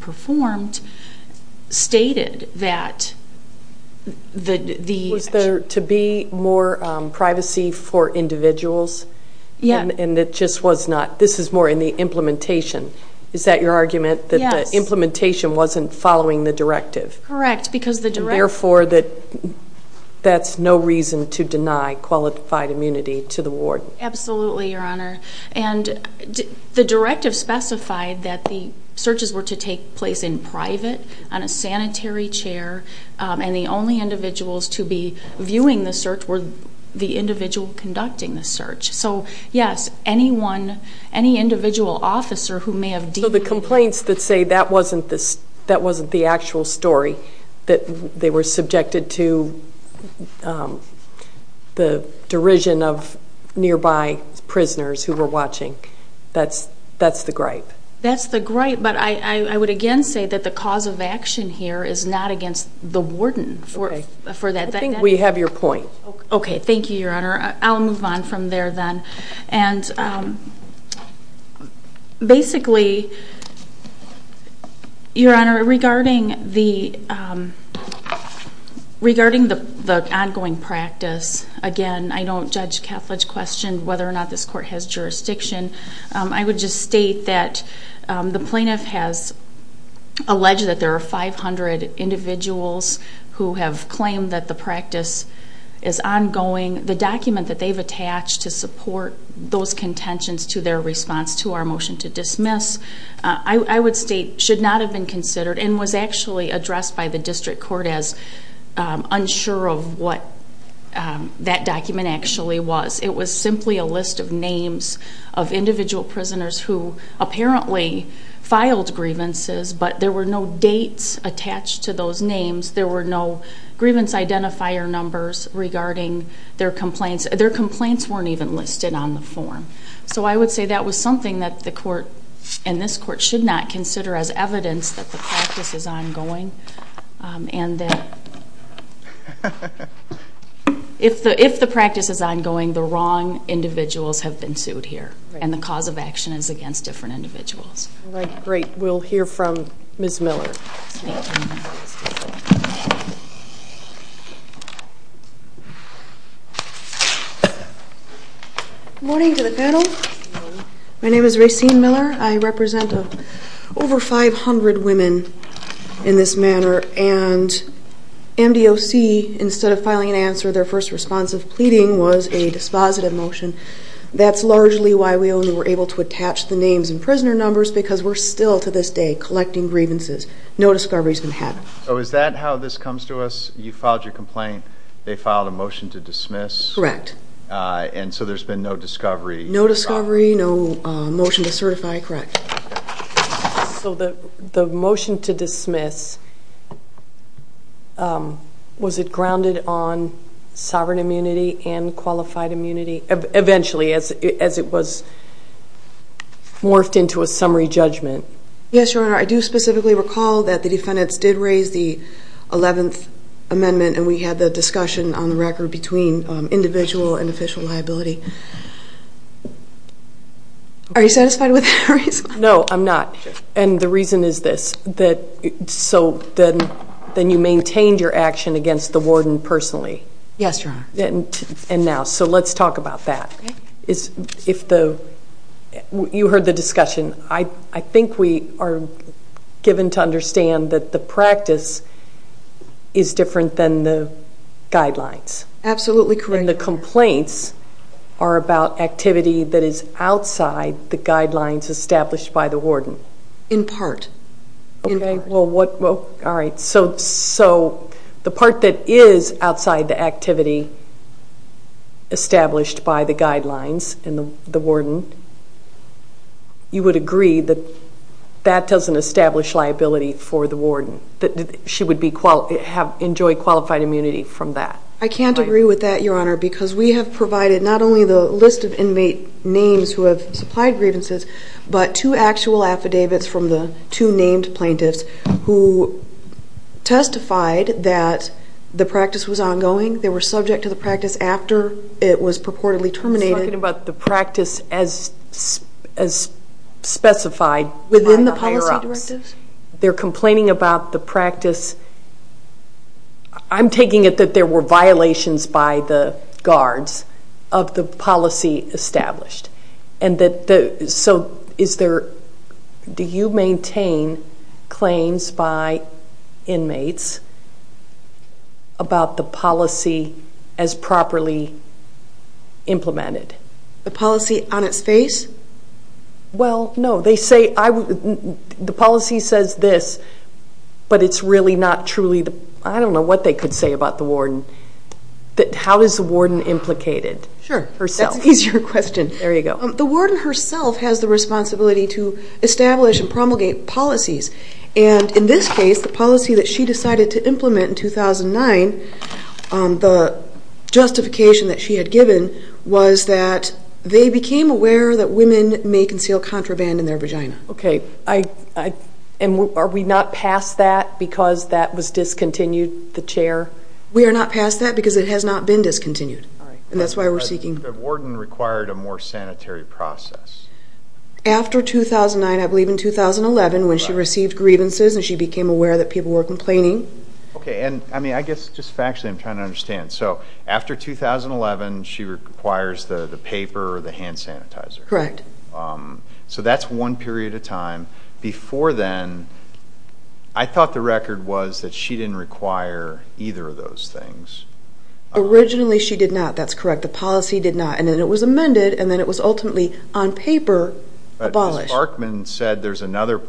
performed stated that the... Was there to be more privacy for individuals? Yeah. And it just was not. This is more in the implementation. Is that your argument? Yes. That the implementation wasn't following the directive? Correct, because the directive... Therefore, that's no reason to deny qualified immunity to the ward. Absolutely, Your Honor. And the directive specified that the searches were to take place in private, on a sanitary chair, and the only individuals to be viewing the search were the individual conducting the search. So, yes, anyone, any individual officer who may have... So the complaints that say that wasn't the actual story, that they were subjected to the derision of nearby prisoners who were watching, that's the gripe. That's the gripe, but I would again say that the cause of action here is not against the warden for that. I think we have your point. Okay, thank you, Your Honor. I'll move on from there then. And basically, Your Honor, regarding the ongoing practice, again, I don't judge Catholic question whether or not this court has jurisdiction. I would just state that the plaintiff has alleged that there are 500 individuals who have claimed that the practice is ongoing. The document that they've attached to support those contentions to their response to our motion to dismiss, I would state should not have been considered and was actually addressed by the district court as unsure of what that document actually was. It was simply a list of names of individual prisoners who apparently filed grievances, but there were no dates attached to those names. There were no grievance identifier numbers regarding their complaints. Their complaints weren't even listed on the form. So I would say that was something that the court and this court should not consider as evidence that the practice is ongoing and that if the practice is ongoing, the wrong individuals have been sued here and the cause of action is against different individuals. All right, great. We'll hear from Ms. Miller. Good morning to the panel. My name is Racine Miller. I represent over 500 women in this manner, and MDOC, instead of filing an answer, their first response of pleading was a dispositive motion. That's largely why we only were able to attach the names and prisoner numbers because we're still to this day collecting grievances. No discovery has been had. So is that how this comes to us? You filed your complaint. They filed a motion to dismiss. Correct. And so there's been no discovery. No discovery, no motion to certify. Correct. So the motion to dismiss, was it grounded on sovereign immunity and qualified immunity eventually as it was morphed into a summary judgment? Yes, Your Honor. I do specifically recall that the defendants did raise the 11th Amendment, and we had the discussion on the record between individual and official liability. Are you satisfied with that? No, I'm not. And the reason is this. So then you maintained your action against the warden personally? Yes, Your Honor. And now, so let's talk about that. You heard the discussion. I think we are given to understand that the practice is different than the guidelines. Absolutely correct. And the complaints are about activity that is outside the guidelines established by the warden? In part. Okay, well, all right. So the part that is outside the activity established by the guidelines and the warden, you would agree that that doesn't establish liability for the warden, that she would enjoy qualified immunity from that? I can't agree with that, Your Honor, because we have provided not only the list of inmate names who have supplied grievances, but two actual affidavits from the two named plaintiffs who testified that the practice was ongoing, they were subject to the practice after it was purportedly terminated. You're talking about the practice as specified by the higher-ups? Within the policy directives. They're complaining about the practice. I'm taking it that there were violations by the guards of the policy established. So do you maintain claims by inmates about the policy as properly implemented? The policy on its face? Well, no. The policy says this, but it's really not truly the – I don't know what they could say about the warden. How is the warden implicated? Sure. That's an easier question. There you go. The warden herself has the responsibility to establish and promulgate policies, and in this case, the policy that she decided to implement in 2009, the justification that she had given was that they became aware that women may conceal contraband in their vagina. Okay. And are we not past that because that was discontinued, the chair? We are not past that because it has not been discontinued, and that's why we're seeking – The warden required a more sanitary process. After 2009, I believe in 2011, when she received grievances and she became aware that people were complaining. Okay. And, I mean, I guess just factually I'm trying to understand. So after 2011, she requires the paper or the hand sanitizer. Correct. So that's one period of time. Before then, I thought the record was that she didn't require either of those things. Originally, she did not. That's correct. The policy did not, and then it was amended, and then it was ultimately on paper abolished. Ms. Barkman said there's another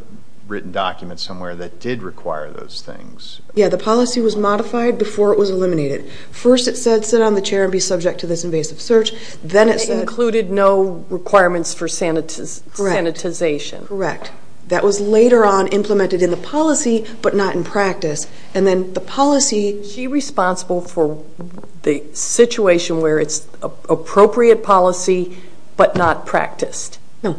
written document somewhere that did require those things. Yeah, the policy was modified before it was eliminated. First it said sit on the chair and be subject to this invasive search. Then it said – It included no requirements for sanitization. Correct. That was later on implemented in the policy but not in practice. And then the policy – She's responsible for the situation where it's appropriate policy but not practiced. No.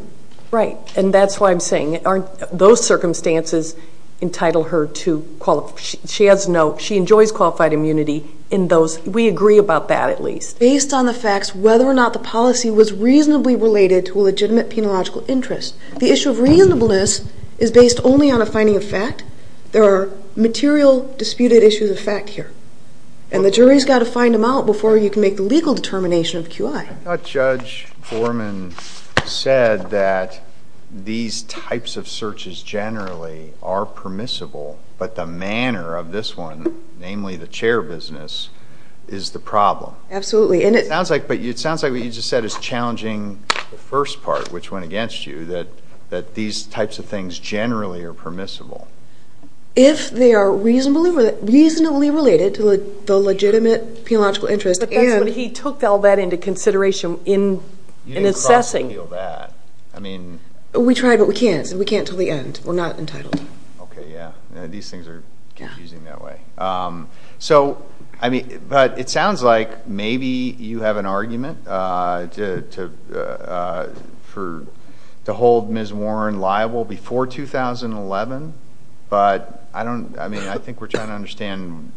Right, and that's why I'm saying, aren't those circumstances entitle her to – she has no – she enjoys qualified immunity in those. We agree about that at least. Based on the facts, whether or not the policy was reasonably related to a legitimate penological interest. The issue of reasonableness is based only on a finding of fact. There are material disputed issues of fact here, and the jury's got to find them out before you can make the legal determination of QI. I thought Judge Borman said that these types of searches generally are permissible, but the manner of this one, namely the chair business, is the problem. Absolutely. It sounds like what you just said is challenging the first part, which went against you, that these types of things generally are permissible. If they are reasonably related to the legitimate penological interest and – You didn't cross-appeal that. We tried, but we can't. We can't until the end. We're not entitled. Okay, yeah. These things are confusing that way. It sounds like maybe you have an argument to hold Ms. Warren liable before 2011, but I think we're trying to understand,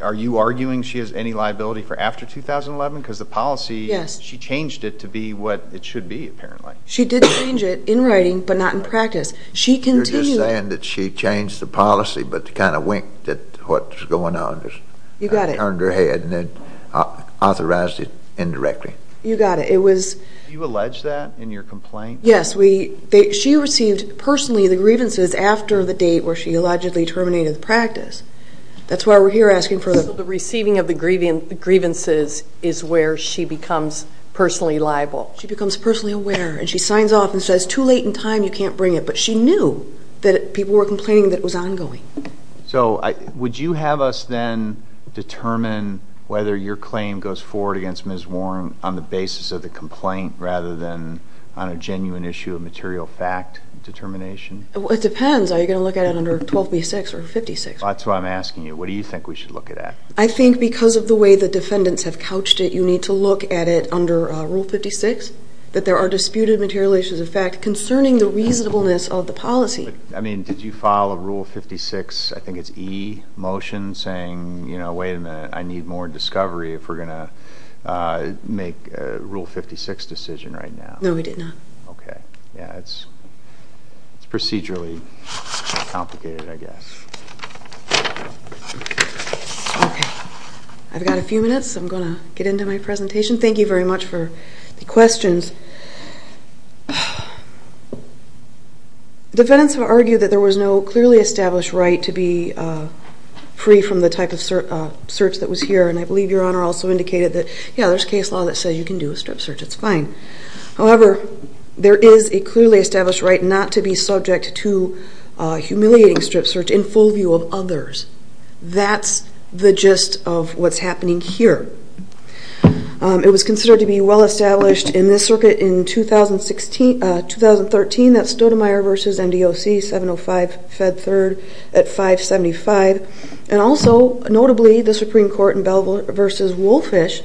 are you arguing she has any liability for after 2011? Because the policy, she changed it to be what it should be, apparently. She did change it in writing, but not in practice. You're just saying that she changed the policy, but kind of winked at what was going on. You got it. Turned her head and then authorized it indirectly. You got it. Did you allege that in your complaint? Yes. She received, personally, the grievances after the date where she allegedly terminated the practice. That's why we're here asking for the – is where she becomes personally liable. She becomes personally aware, and she signs off and says, too late in time, you can't bring it. But she knew that people were complaining that it was ongoing. So would you have us then determine whether your claim goes forward against Ms. Warren on the basis of the complaint rather than on a genuine issue of material fact determination? It depends. Are you going to look at it under 12b-6 or 56? That's what I'm asking you. What do you think we should look at? I think because of the way the defendants have couched it, you need to look at it under Rule 56, that there are disputed material issues of fact concerning the reasonableness of the policy. I mean, did you file a Rule 56, I think it's E, motion saying, you know, wait a minute, I need more discovery if we're going to make a Rule 56 decision right now? No, we did not. Okay. Yeah, it's procedurally complicated, I guess. Okay. I've got a few minutes. I'm going to get into my presentation. Thank you very much for the questions. Defendants have argued that there was no clearly established right to be free from the type of search that was here, and I believe Your Honor also indicated that, yeah, there's case law that says you can do a strip search. It's fine. However, there is a clearly established right not to be subject to humiliating strip search in full view of others. That's the gist of what's happening here. It was considered to be well-established in this circuit in 2013, that's Stoudemire v. MDOC, 705 Fed 3rd at 575. And also, notably, the Supreme Court in Belvoir v. Wolfish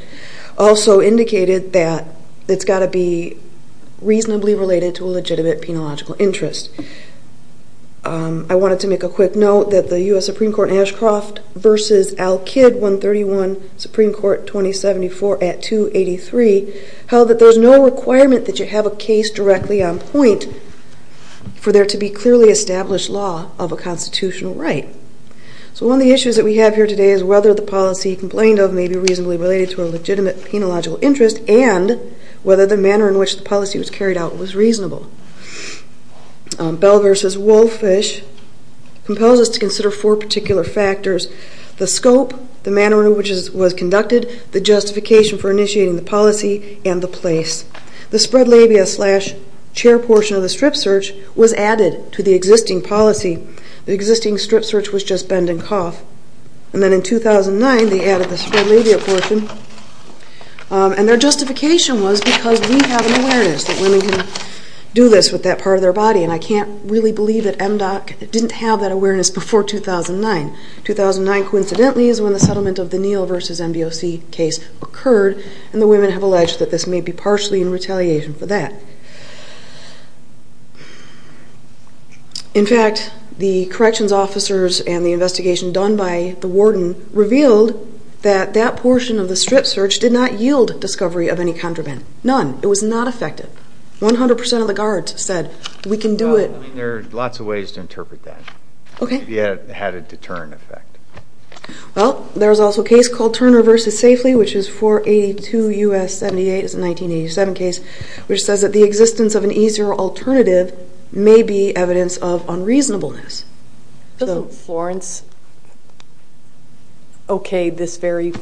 also indicated that it's got to be reasonably related to a legitimate penological interest. I wanted to make a quick note that the U.S. Supreme Court in Ashcroft v. Al-Kid, 131, Supreme Court, 2074 at 283, held that there's no requirement that you have a case directly on point for there to be clearly established law of a constitutional right. So one of the issues that we have here today is whether the policy complained of may be reasonably related to a legitimate penological interest and whether the manner in which the policy was carried out was reasonable. Belvoir v. Wolfish compels us to consider four particular factors. The scope, the manner in which it was conducted, the justification for initiating the policy, and the place. The spread labia slash chair portion of the strip search was added to the existing policy. The existing strip search was just bend and cough. And then in 2009, they added the spread labia portion. And their justification was because we have an awareness that women can do this with that part of their body. And I can't really believe that MDOC didn't have that awareness before 2009. 2009, coincidentally, is when the settlement of the Neal v. MVOC case occurred. And the women have alleged that this may be partially in retaliation for that. In fact, the corrections officers and the investigation done by the warden revealed that that portion of the strip search did not yield discovery of any contraband. None. It was not effective. 100% of the guards said, we can do it. Well, there are lots of ways to interpret that. Okay. It had a deterrent effect. Well, there was also a case called Turner v. Safely, which is 482 U.S. 78. It's a 1987 case, which says that the existence of an easier alternative may be evidence of unreasonableness. So Florence okayed this very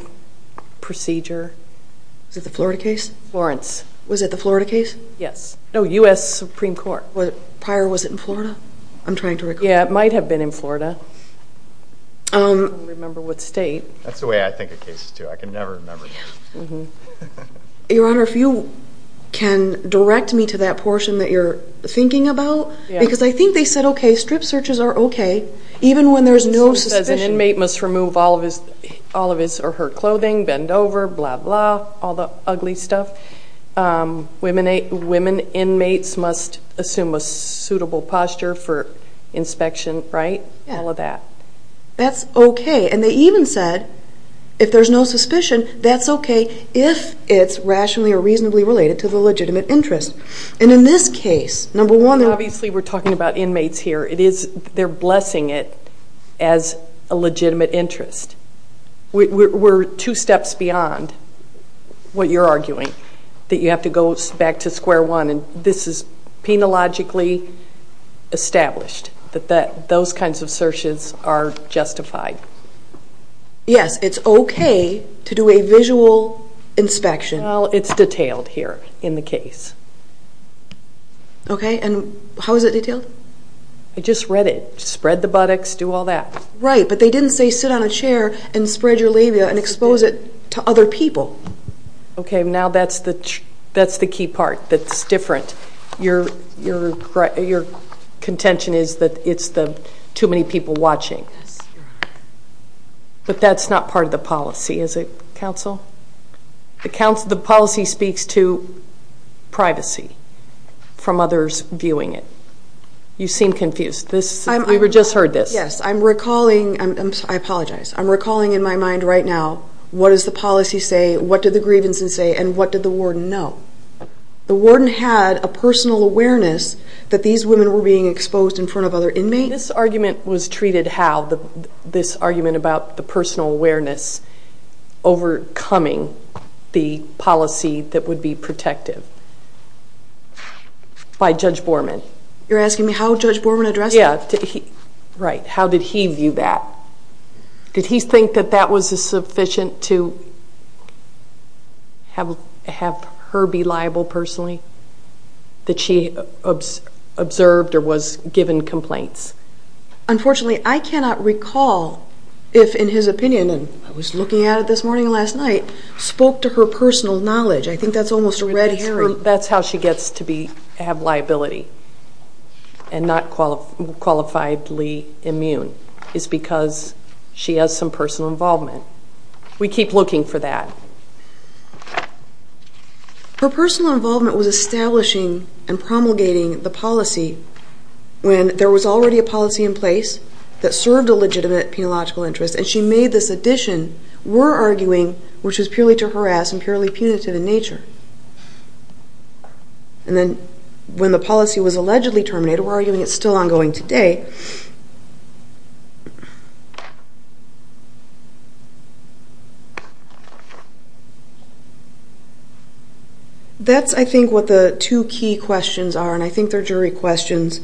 procedure. Was it the Florida case? Florence. Was it the Florida case? Yes. No, U.S. Supreme Court. Prior, was it in Florida? I'm trying to recall. Yeah, it might have been in Florida. I don't remember what state. That's the way I think of cases, too. I can never remember. Your Honor, if you can direct me to that portion that you're thinking about, because I think they said, okay, strip searches are okay, even when there's no suspicion. It says an inmate must remove all of his or her clothing, bend over, blah, blah, all the ugly stuff. Women inmates must assume a suitable posture for inspection, right? All of that. That's okay. And they even said if there's no suspicion, that's okay if it's rationally or reasonably related to the legitimate interest. And in this case, number one. Obviously, we're talking about inmates here. They're blessing it as a legitimate interest. We're two steps beyond what you're arguing, that you have to go back to square one. And this is penologically established, that those kinds of searches are justified. Yes, it's okay to do a visual inspection. Well, it's detailed here in the case. Okay, and how is it detailed? I just read it. Spread the buttocks, do all that. Right, but they didn't say sit on a chair and spread your labia and expose it to other people. Okay, now that's the key part that's different. Your contention is that it's too many people watching. But that's not part of the policy, is it, counsel? The policy speaks to privacy from others viewing it. You seem confused. We just heard this. Yes, I'm recalling. I apologize. I'm recalling in my mind right now, what does the policy say, what did the grievance say, and what did the warden know? The warden had a personal awareness that these women were being exposed in front of other inmates. This argument was treated how? This argument about the personal awareness overcoming the policy that would be protective by Judge Borman. You're asking me how Judge Borman addressed that? Yeah, right. How did he view that? Did he think that that was sufficient to have her be liable personally, that she observed or was given complaints? Unfortunately, I cannot recall if, in his opinion, and I was looking at it this morning and last night, spoke to her personal knowledge. I think that's almost a red herring. That's how she gets to have liability and not qualifiably immune, is because she has some personal involvement. We keep looking for that. Her personal involvement was establishing and promulgating the policy when there was already a policy in place that served a legitimate And she made this addition, we're arguing, which was purely to harass and purely punitive in nature. And then when the policy was allegedly terminated, we're arguing it's still ongoing today. That's, I think, what the two key questions are, and I think they're jury questions.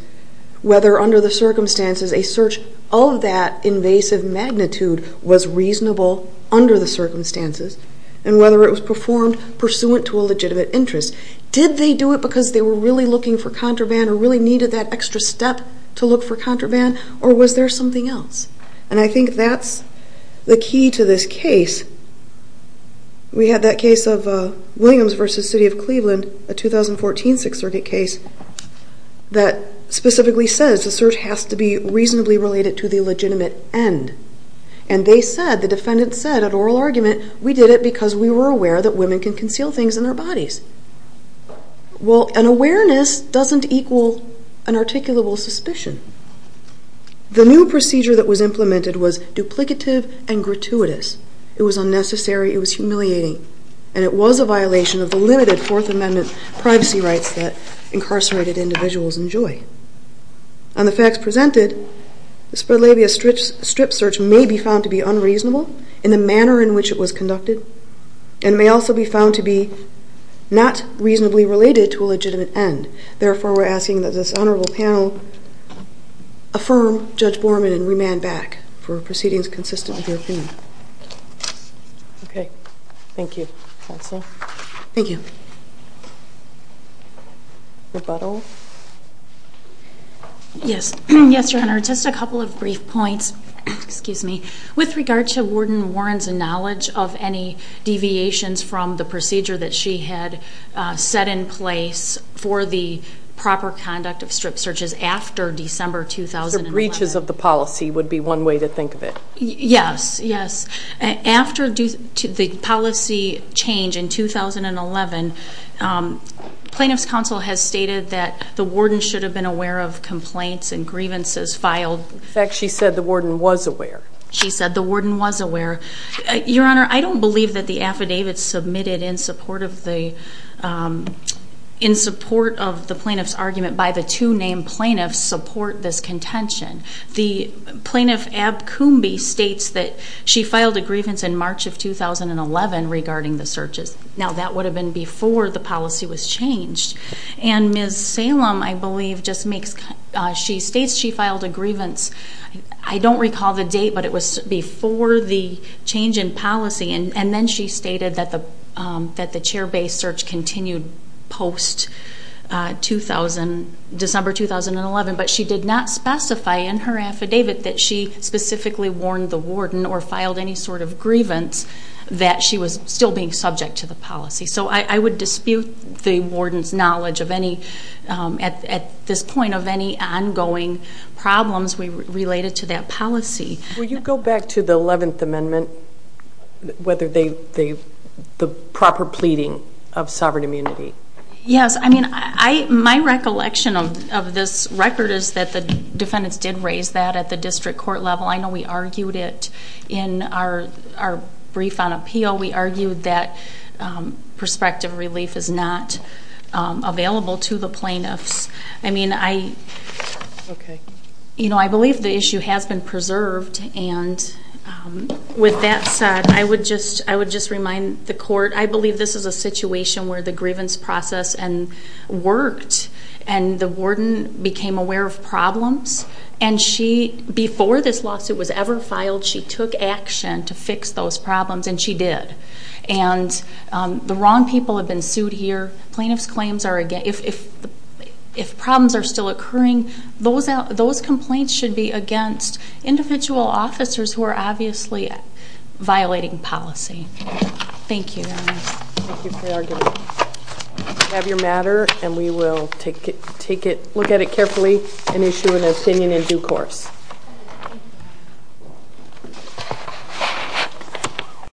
Whether, under the circumstances, a search of that invasive magnitude was reasonable under the circumstances, and whether it was performed pursuant to a legitimate interest. Did they do it because they were really looking for contraband or really needed that extra step to look for contraband, or was there something else? And I think that's the key to this case. We had that case of Williams v. City of Cleveland, a 2014 Sixth Circuit case, that specifically says the search has to be reasonably related to the legitimate end. And they said, the defendants said at oral argument, we did it because we were aware that women can conceal things in their bodies. Well, an awareness doesn't equal an articulable suspicion. The new procedure that was implemented was duplicative and gratuitous. It was unnecessary, it was humiliating, and it was a violation of the limited Fourth Amendment privacy rights that incarcerated individuals enjoy. On the facts presented, the spread labia strip search may be found to be unreasonable in the manner in which it was conducted, and may also be found to be not reasonably related to a legitimate end. Therefore, we're asking that this honorable panel affirm Judge Borman and remand back for proceedings consistent with their opinion. Okay. Thank you, Counsel. Thank you. Rebuttal? Yes, Your Honor. Just a couple of brief points. With regard to Warden Warren's knowledge of any deviations from the procedure that she had set in place for the proper conduct of strip searches after December 2011. The breaches of the policy would be one way to think of it. Yes, yes. After the policy change in 2011, Plaintiff's Counsel has stated that the warden should have been aware of complaints and grievances filed. In fact, she said the warden was aware. She said the warden was aware. Your Honor, I don't believe that the affidavits submitted in support of the plaintiff's argument by the two named plaintiffs support this contention. The plaintiff, Ab Kumbi, states that she filed a grievance in March of 2011 regarding the searches. Now, that would have been before the policy was changed. And Ms. Salem, I believe, states she filed a grievance. I don't recall the date, but it was before the change in policy. And then she stated that the chair-based search continued post-December 2011. But she did not specify in her affidavit that she specifically warned the warden or filed any sort of grievance that she was still being subject to the policy. So I would dispute the warden's knowledge at this point of any ongoing problems related to that policy. Will you go back to the 11th Amendment, the proper pleading of sovereign immunity? Yes. I mean, my recollection of this record is that the defendants did raise that at the district court level. I know we argued it in our brief on appeal. We argued that prospective relief is not available to the plaintiffs. I mean, I believe the issue has been preserved. I believe this is a situation where the grievance process worked and the warden became aware of problems. And before this lawsuit was ever filed, she took action to fix those problems, and she did. And the wrong people have been sued here. If problems are still occurring, those complaints should be against individual officers who are obviously violating policy. Thank you, Your Honor. Thank you for your argument. You have your matter, and we will look at it carefully and issue an opinion in due course.